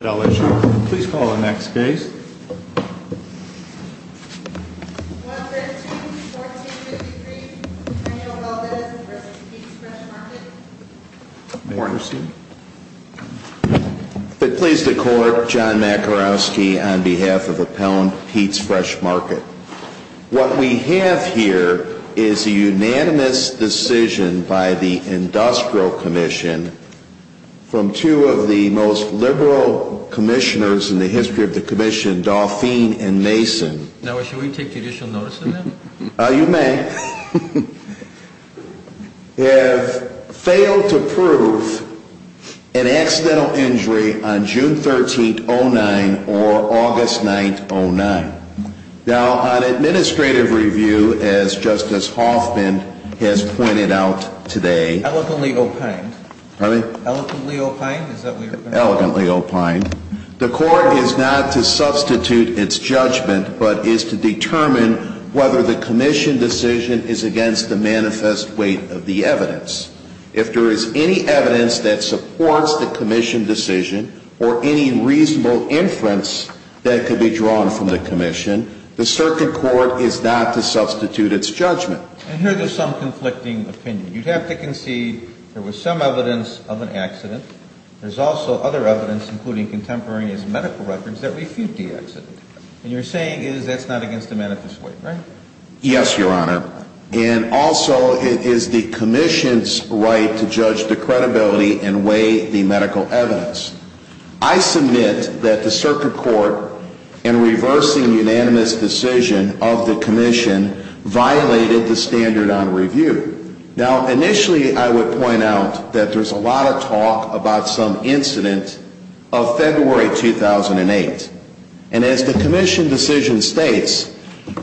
Please call the next case. 113-1453, Antonio Valdez v. Peet's Fresh Market. May I proceed? It please the Court, John Makarowski on behalf of Appellant Peet's Fresh Market. What we have here is a unanimous decision by the Industrial Commission from two of the most liberal commissioners in the history of the Commission, Dauphine and Mason. Now, should we take judicial notice of that? You may. They have failed to prove an accidental injury on June 13, 2009 or August 9, 2009. Now, on administrative review, as Justice Hoffman has pointed out today Elegantly opined. Pardon me? Elegantly opined? Elegantly opined. The Court is not to substitute its judgment, but is to determine whether the Commission decision is against the manifest weight of the evidence. If there is any evidence that supports the Commission decision or any reasonable inference that could be drawn from the Commission, the circuit court is not to substitute its judgment. And here there's some conflicting opinion. You'd have to concede there was some evidence of an accident. There's also other evidence, including contemporary medical records, that refute the accident. And you're saying that's not against the manifest weight, right? Yes, Your Honor. And also, it is the Commission's right to judge the credibility and weigh the medical evidence. I submit that the circuit court, in reversing unanimous decision of the Commission, violated the standard on review. Now, initially I would point out that there's a lot of talk about some incident of February 2008. And as the Commission decision states,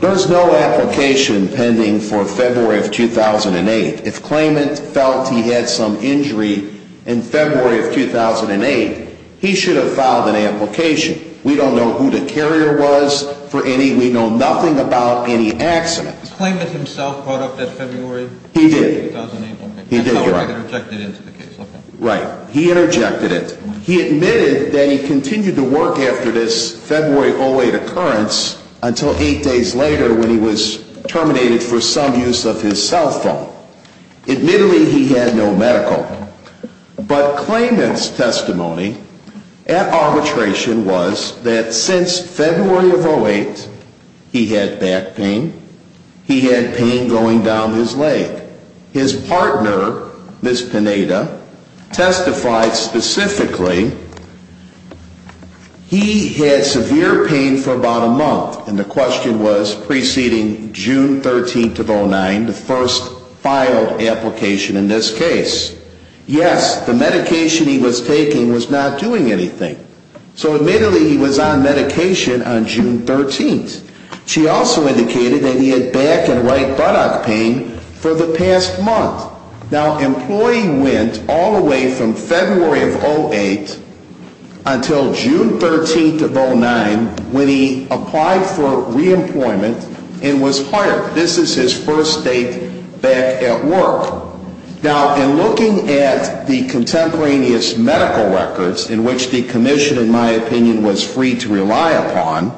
there's no application pending for February of 2008. If Klamath felt he had some injury in February of 2008, he should have filed an application. We don't know who the carrier was for any, we know nothing about any accident. Klamath himself brought up that February? He did. 2008, okay. He did, Your Honor. I'm sorry, I interjected into the case. Okay. Right. He interjected it. He admitted that he continued to work after this February of 2008 occurrence until eight days later when he was terminated for some use of his cell phone. Admittedly, he had no medical. But Klamath's testimony at arbitration was that since February of 2008, he had back pain. He had pain going down his leg. His partner, Ms. Pineda, testified specifically he had severe pain for about a month. And the question was preceding June 13th of 2009, the first filed application in this case. Yes, the medication he was taking was not doing anything. So admittedly, he was on medication on June 13th. She also indicated that he had back and right buttock pain for the past month. Now, employee went all the way from February of 2008 until June 13th of 2009 when he applied for reemployment and was hired. This is his first date back at work. Now, in looking at the contemporaneous medical records in which the commission, in my opinion, was free to rely upon,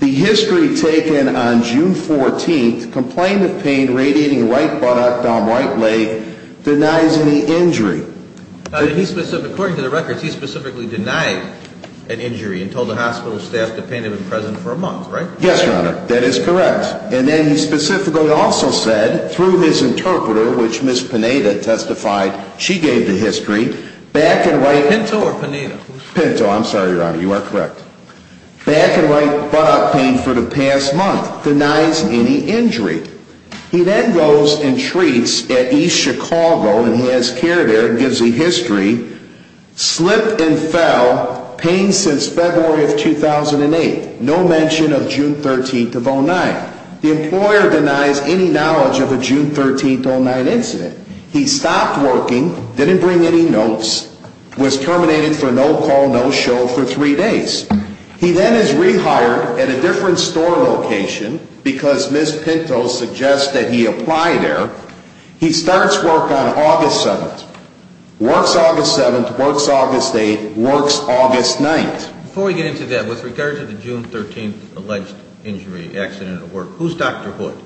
the history taken on June 14th, complaint of pain radiating right buttock down right leg denies any injury. According to the records, he specifically denied an injury and told the hospital staff the pain had been present for a month, right? Yes, Your Honor. That is correct. And then he specifically also said through his interpreter, which Ms. Pineda testified she gave the history, back and right. Pinto or Pineda? Pinto. I'm sorry, Your Honor. You are correct. Back and right buttock pain for the past month denies any injury. He then goes and treats at East Chicago and he has care there and gives the history. Slipped and fell, pain since February of 2008. No mention of June 13th of 2009. The employer denies any knowledge of a June 13th, 2009 incident. He stopped working, didn't bring any notes, was terminated for no call, no show for three days. He then is rehired at a different store location because Ms. Pinto suggests that he apply there. He starts work on August 7th. Works August 7th, works August 8th, works August 9th. Before we get into that, with regard to the June 13th alleged injury, accident at work, who's Dr. Hood?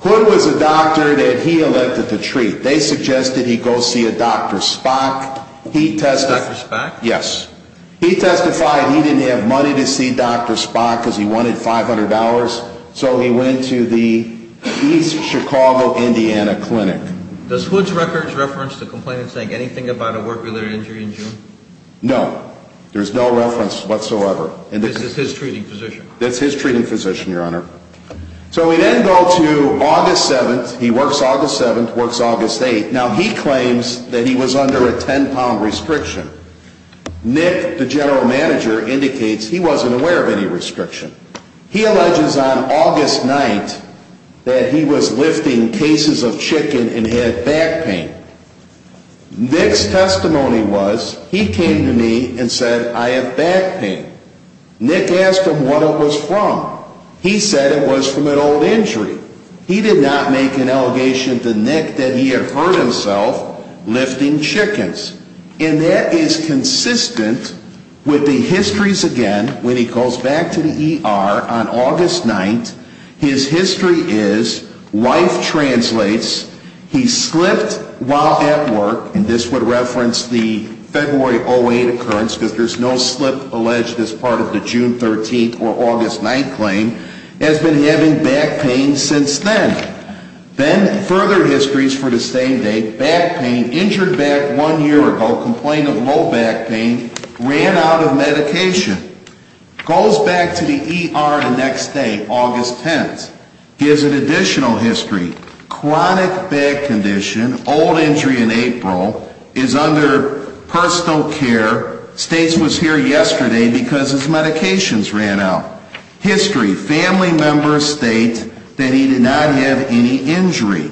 Hood was a doctor that he elected to treat. They suggested he go see a Dr. Spock. Dr. Spock? Yes. He testified he didn't have money to see Dr. Spock because he wanted $500. So he went to the East Chicago, Indiana clinic. Does Hood's records reference the complainant saying anything about a work-related injury in June? No. There's no reference whatsoever. This is his treating physician? That's his treating physician, Your Honor. So we then go to August 7th. He works August 7th, works August 8th. Now he claims that he was under a 10-pound restriction. Nick, the general manager, indicates he wasn't aware of any restriction. He alleges on August 9th that he was lifting cases of chicken and had back pain. Nick's testimony was he came to me and said, I have back pain. Nick asked him what it was from. He said it was from an old injury. He did not make an allegation to Nick that he had hurt himself lifting chickens. And that is consistent with the histories again when he goes back to the ER on August 9th. His history is, life translates, he slipped while at work, and this would reference the February 08 occurrence because there's no slip alleged as part of the June 13th or August 9th claim, has been having back pain since then. Then further histories for the same date. Back pain, injured back one year ago, complained of low back pain, ran out of medication. Goes back to the ER the next day, August 10th. Gives an additional history. Chronic back condition, old injury in April, is under personal care, states was here yesterday because his medications ran out. History, family members state that he did not have any injury.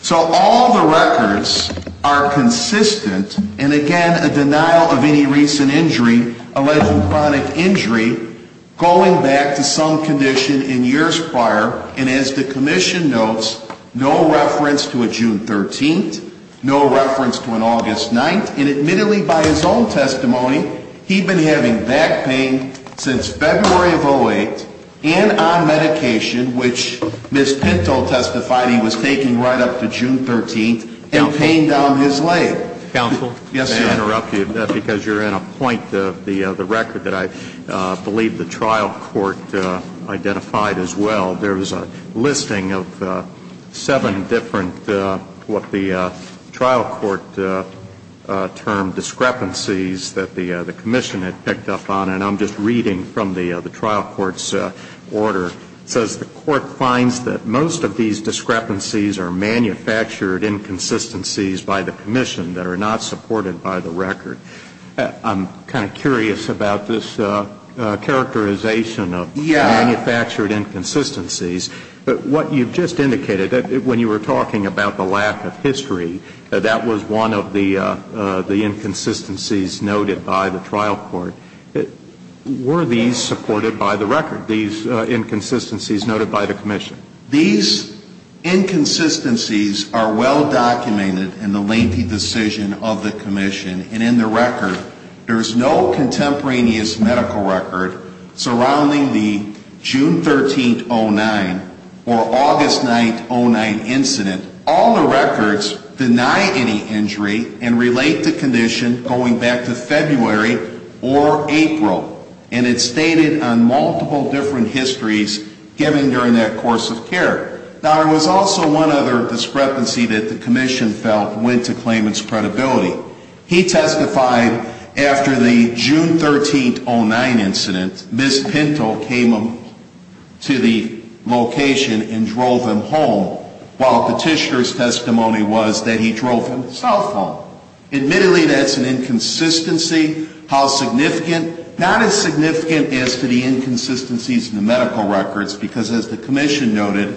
So all the records are consistent. And again, a denial of any recent injury, alleged chronic injury, going back to some condition in years prior. And as the commission notes, no reference to a June 13th, no reference to an August 9th. And admittedly, by his own testimony, he'd been having back pain since February of 08, and on medication, which Ms. Pinto testified he was taking right up to June 13th, and pain down his leg. Counsel? May I interrupt you? Because you're in a point of the record that I believe the trial court identified as well. There was a listing of seven different what the trial court termed discrepancies that the commission had picked up on. And I'm just reading from the trial court's order. It says the court finds that most of these discrepancies are manufactured inconsistencies by the commission that are not supported by the record. I'm kind of curious about this characterization of manufactured inconsistencies. But what you've just indicated, when you were talking about the lack of history, that was one of the inconsistencies noted by the trial court. Were these supported by the record, these inconsistencies noted by the commission? These inconsistencies are well documented in the lengthy decision of the commission. And in the record, there is no contemporaneous medical record surrounding the June 13th, 2009, or August 9th, 2009 incident. All the records deny any injury and relate the condition going back to February or April. And it's stated on multiple different histories given during that course of care. Now, there was also one other discrepancy that the commission felt went to claimant's credibility. He testified after the June 13th, 2009 incident, Ms. Pinto came to the location and drove him home, while petitioner's testimony was that he drove himself home. Admittedly, that's an inconsistency. How significant? Not as significant as to the inconsistencies in the medical records, because as the commission noted,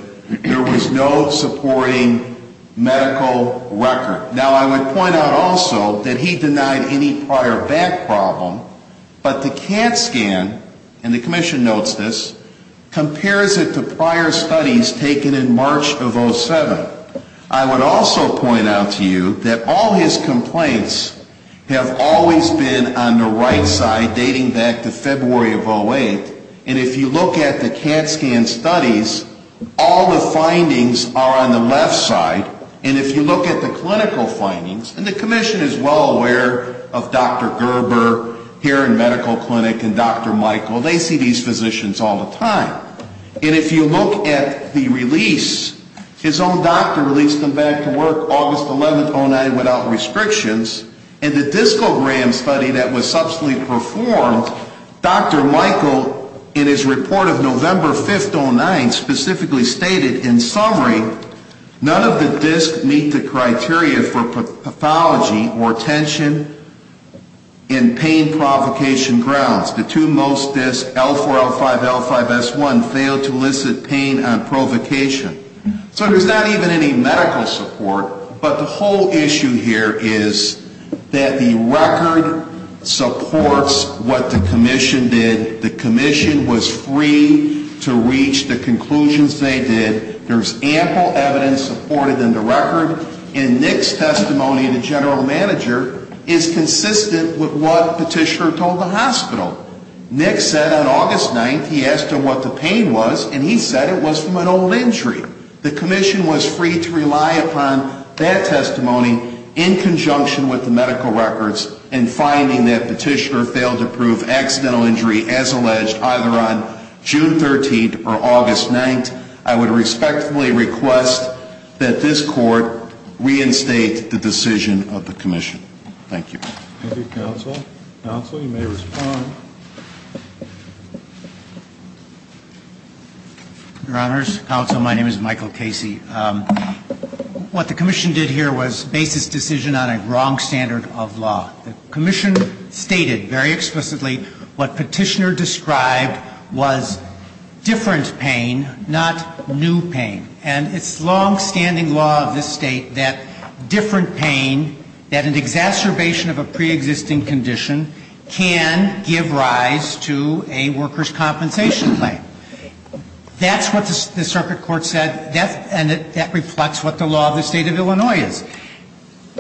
there was no supporting medical record. Now, I would point out also that he denied any prior back problem, but the CAT scan, and the commission notes this, compares it to prior studies taken in March of 07. I would also point out to you that all his complaints have always been on the right side, dating back to February of 08. And if you look at the CAT scan studies, all the findings are on the left side. And if you look at the clinical findings, and the commission is well aware of Dr. Gerber here in medical clinic and Dr. Michael. They see these physicians all the time. And if you look at the release, his own doctor released him back to work August 11th, 2009, without restrictions. And the discogram study that was subsequently performed, Dr. Michael, in his report of November 5th, 2009, specifically stated, in summary, none of the discs meet the criteria for pathology or tension in pain provocation grounds. The two most discs, L4, L5, L5, S1, failed to elicit pain on provocation. So there's not even any medical support. But the whole issue here is that the record supports what the commission did. The commission was free to reach the conclusions they did. There's ample evidence supported in the record. And Nick's testimony, the general manager, is consistent with what Petitioner told the hospital. Nick said on August 9th he asked him what the pain was, and he said it was from an old injury. The commission was free to rely upon that testimony in conjunction with the medical records in finding that Petitioner failed to prove accidental injury as alleged either on June 13th or August 9th. I would respectfully request that this court reinstate the decision of the commission. Thank you. Thank you, counsel. Counsel, you may respond. Your Honors, counsel, my name is Michael Casey. What the commission did here was base this decision on a wrong standard of law. The commission stated very explicitly what Petitioner described was different pain, not new pain. And it's longstanding law of this State that different pain, that an exacerbation of a preexisting condition, can give rise to a worker's compensation claim. That's what the circuit court said, and that reflects what the law of the State of Illinois is.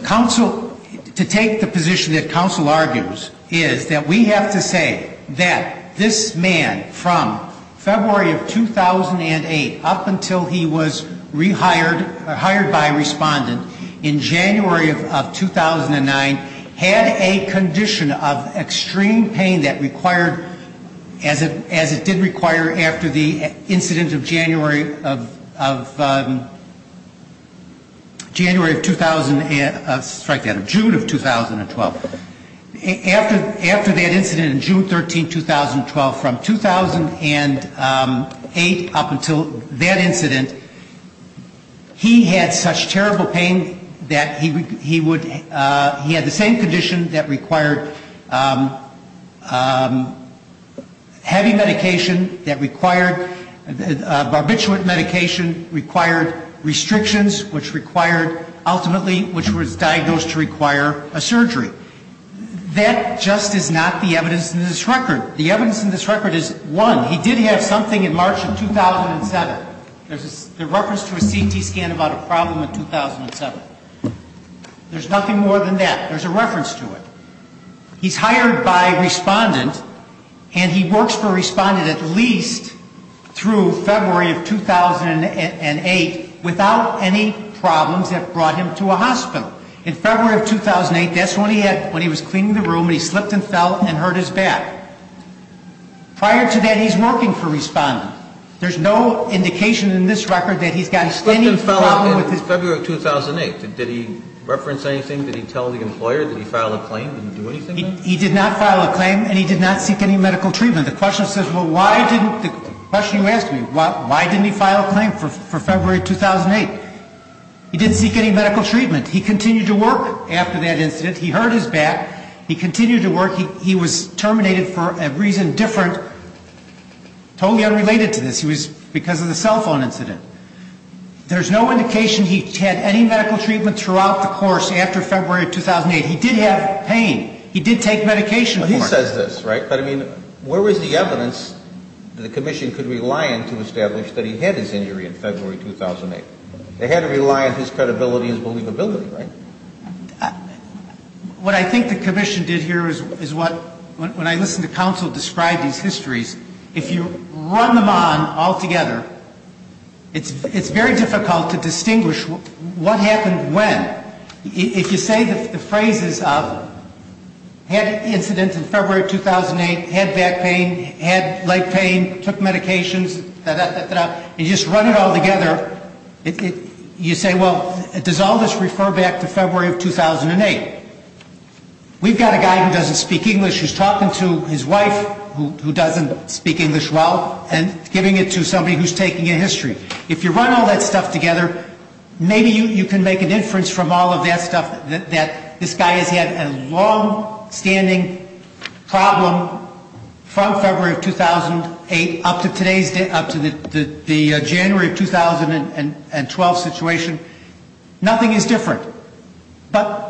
Counsel, to take the position that counsel argues is that we have to say that this man from February of 2008 up until he was rehired, hired by a respondent, in January of 2009 had a condition of extreme pain that required, as it did require after the incident of January of 2000, strike that, June of 2012. After that incident in June 13, 2012, from 2008 up until that incident, he had such terrible pain that he would, he had the same condition that required heavy medication, that required barbiturate medication, required restrictions, which required ultimately, which was diagnosed to require a surgery. That just is not the evidence in this record. The evidence in this record is, one, he did have something in March of 2007. There's a reference to a CT scan about a problem in 2007. There's nothing more than that. There's a reference to it. He's hired by a respondent, and he works for a respondent at least through February of 2008, without any problems that brought him to a hospital. In February of 2008, that's when he was cleaning the room and he slipped and fell and hurt his back. Prior to that, he's working for a respondent. There's no indication in this record that he's got any problem with his back. He slipped and fell in February of 2008. Did he reference anything? Did he tell the employer? Did he file a claim? Did he do anything? He did not file a claim, and he did not seek any medical treatment. The question says, well, why didn't, the question you asked me, why didn't he file a claim for February of 2008? He didn't seek any medical treatment. He continued to work after that incident. He hurt his back. He continued to work. He was terminated for a reason different, totally unrelated to this. He was because of the cell phone incident. There's no indication he had any medical treatment throughout the course after February of 2008. He did have pain. He did take medication for it. But he says this, right? But, I mean, where is the evidence that the commission could rely on to establish that he had his injury in February 2008? They had to rely on his credibility and his believability, right? What I think the commission did here is what, when I listen to counsel describe these histories, if you run them on altogether, it's very difficult to distinguish what happened when. If you say the phrases of had incident in February 2008, had back pain, had leg pain, took medications, da-da-da-da-da, and you just run it all together, you say, well, does all this refer back to February of 2008? We've got a guy who doesn't speak English who's talking to his wife who doesn't speak English well and giving it to somebody who's taking a history. If you run all that stuff together, maybe you can make an inference from all of that stuff that this guy has had a longstanding problem from February of 2008 up to today's date, up to the January of 2012 situation. Nothing is different. But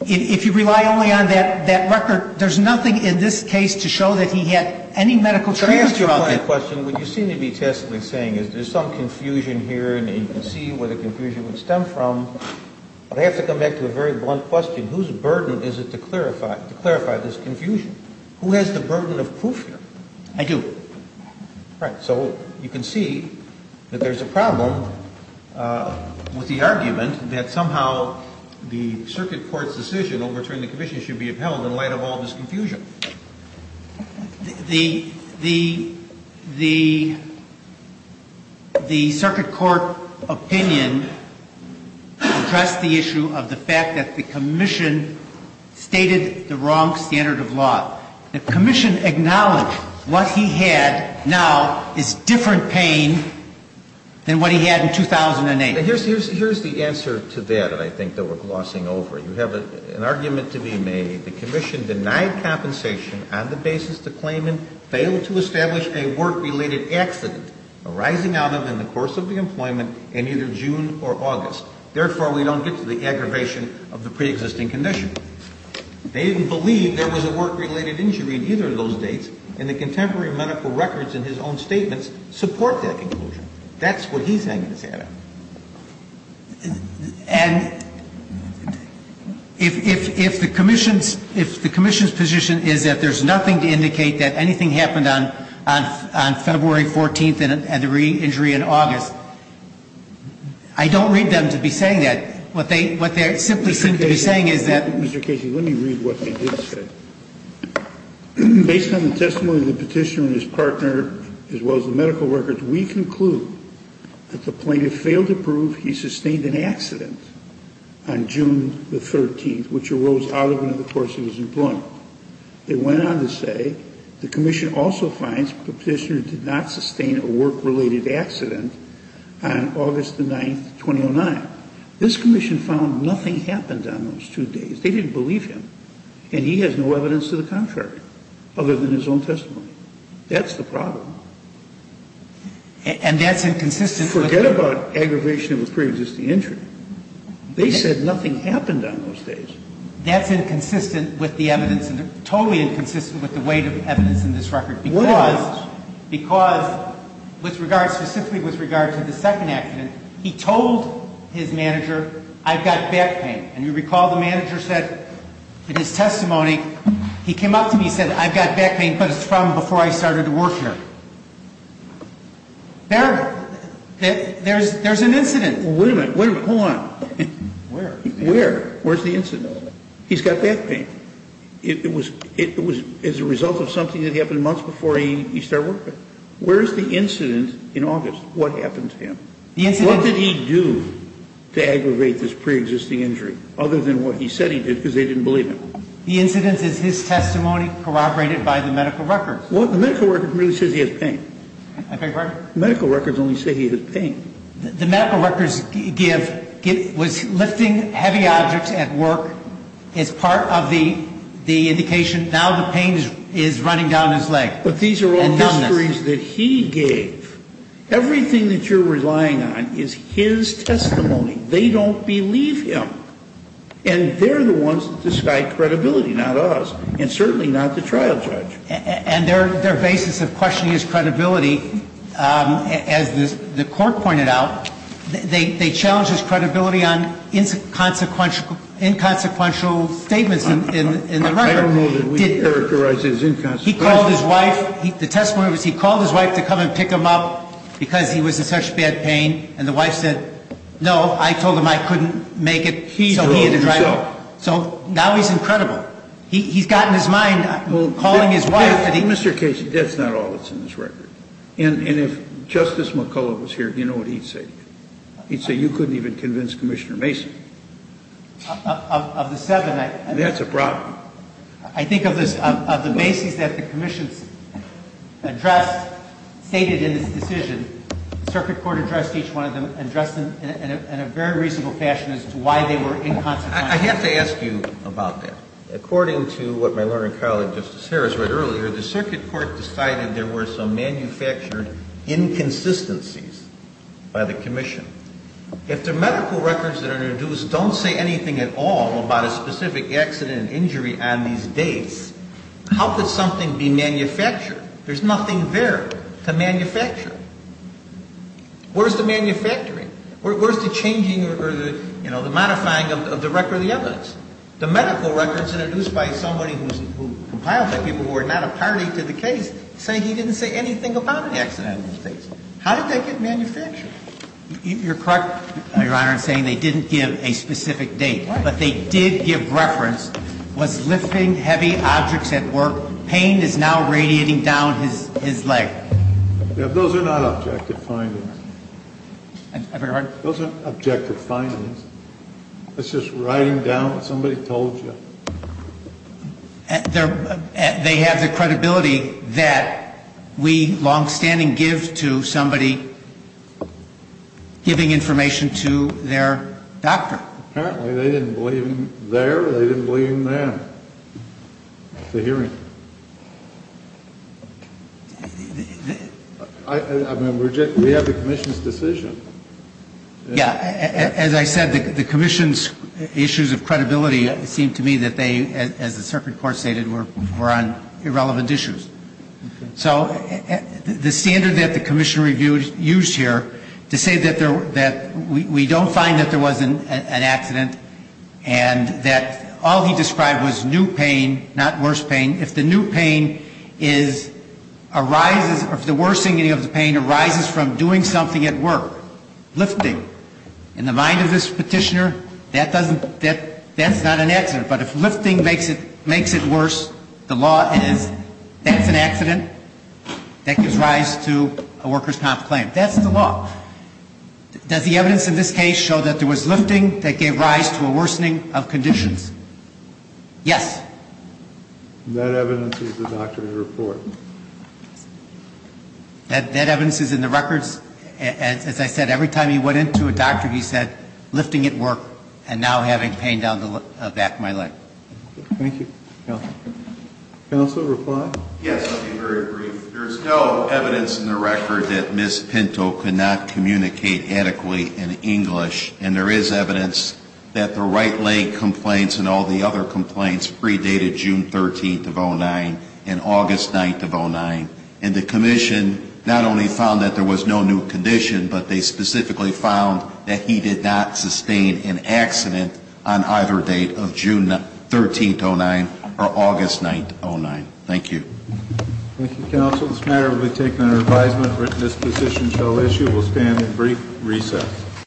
if you rely only on that record, there's nothing in this case to show that he had any medical treatment throughout that. Can I ask you a point of question? What you seem to be testily saying is there's some confusion here, and you can see where the confusion would stem from. But I have to come back to a very blunt question. Whose burden is it to clarify this confusion? Who has the burden of proof here? I do. Right. So you can see that there's a problem with the argument that somehow the circuit court's decision, overturning the commission, should be upheld in light of all this confusion. The circuit court opinion addressed the issue of the fact that the commission stated the wrong standard of law. The commission acknowledged what he had now is different pain than what he had in 2008. Here's the answer to that that I think that we're glossing over. You have an argument to be made. The commission denied compensation on the basis of the claimant failed to establish a work-related accident arising out of and in the course of the employment in either June or August. Therefore, we don't get to the aggravation of the preexisting condition. They didn't believe there was a work-related injury in either of those dates, and the contemporary medical records in his own statements support that conclusion. That's what he's hanging his head on. And if the commission's position is that there's nothing to indicate that anything happened on February 14th and a degree injury in August, I don't read them to be saying that. What they simply seem to be saying is that Mr. Casey, let me read what they did say. Based on the testimony of the petitioner and his partner, as well as the medical records, we conclude that the plaintiff failed to prove he sustained an accident on June the 13th, which arose out of and in the course of his employment. They went on to say the commission also finds the petitioner did not sustain a work-related accident on August the 9th, 2009. This commission found nothing happened on those two days. They didn't believe him, and he has no evidence to the contrary other than his own testimony. That's the problem. And that's inconsistent. Forget about aggravation of a preexisting injury. They said nothing happened on those days. That's inconsistent with the evidence, and totally inconsistent with the weight of evidence in this record. Why? Because with regard, specifically with regard to the second accident, he told his manager, I've got back pain. And you recall the manager said in his testimony, he came up to me and said, I've got back pain, but it's from before I started to work here. There's an incident. Wait a minute. Hold on. Where? Where? Where's the incident? He's got back pain. It was as a result of something that happened months before he started working. Where's the incident in August? What happened to him? What did he do to aggravate this preexisting injury other than what he said he did because they didn't believe him? The incident is his testimony corroborated by the medical records. Well, the medical records really says he has pain. I beg your pardon? Medical records only say he has pain. The medical records give, was lifting heavy objects at work as part of the indication, now the pain is running down his leg. But these are all histories that he gave. Everything that you're relying on is his testimony. They don't believe him. And they're the ones that decide credibility, not us, and certainly not the trial judge. And their basis of questioning his credibility, as the court pointed out, they challenged his credibility on inconsequential statements in the record. I don't know that we characterize it as inconsequential. He called his wife. The testimony was he called his wife to come and pick him up because he was in such bad pain. And the wife said, no, I told him I couldn't make it, so he had to drive home. So now he's incredible. He's got in his mind calling his wife. Mr. Casey, that's not all that's in this record. And if Justice McCullough was here, do you know what he'd say? He'd say you couldn't even convince Commissioner Mason. Of the seven. That's a problem. I think of the basis that the commission's address stated in this decision, the circuit court addressed each one of them, addressed them in a very reasonable fashion as to why they were inconsequential. I have to ask you about that. According to what my learning colleague, Justice Harris, read earlier, the circuit court decided there were some manufactured inconsistencies by the commission. If the medical records that are introduced don't say anything at all about a specific accident and injury on these dates, how could something be manufactured? There's nothing there to manufacture. Where's the manufacturing? Where's the changing or the modifying of the record of the evidence? The medical records introduced by somebody who compiled that, people who are not a party to the case, say he didn't say anything about an accident. How did that get manufactured? You're correct, Your Honor, in saying they didn't give a specific date. But they did give reference, was lifting heavy objects at work, pain is now radiating down his leg. Those are not objective findings. I beg your pardon? Those aren't objective findings. That's just writing down what somebody told you. They have the credibility that we longstanding give to somebody giving information to their doctor. Apparently they didn't believe him there or they didn't believe him then. It's a hearing. I mean, we have the commission's decision. Yeah. As I said, the commission's issues of credibility seemed to me that they, as the circuit court stated, were on irrelevant issues. So the standard that the commission used here to say that we don't find that there was an accident and that all he described was new pain, not worse pain. If the new pain is arises, or if the worsening of the pain arises from doing something at work, lifting, in the mind of this petitioner, that doesn't, that's not an accident. But if lifting makes it worse, the law is, that's an accident. That gives rise to a workers' comp claim. That's the law. Does the evidence in this case show that there was lifting that gave rise to a worsening of conditions? Yes. That evidence is in the doctor's report. That evidence is in the records. As I said, every time he went into a doctor, he said, lifting at work and now having pain down the back of my leg. Thank you. Counsel, reply? Yes, I'll be very brief. There's no evidence in the record that Ms. Pinto could not communicate adequately in English. And there is evidence that the right leg complaints and all the other complaints predated June 13th of 09 and August 9th of 09. And the commission not only found that there was no new condition, but they specifically found that he did not sustain an accident on either date of June 13th of 09 or August 9th of 09. Thank you. Thank you, counsel. This matter will be taken under advisement. This position shall issue. We'll stand in brief recess.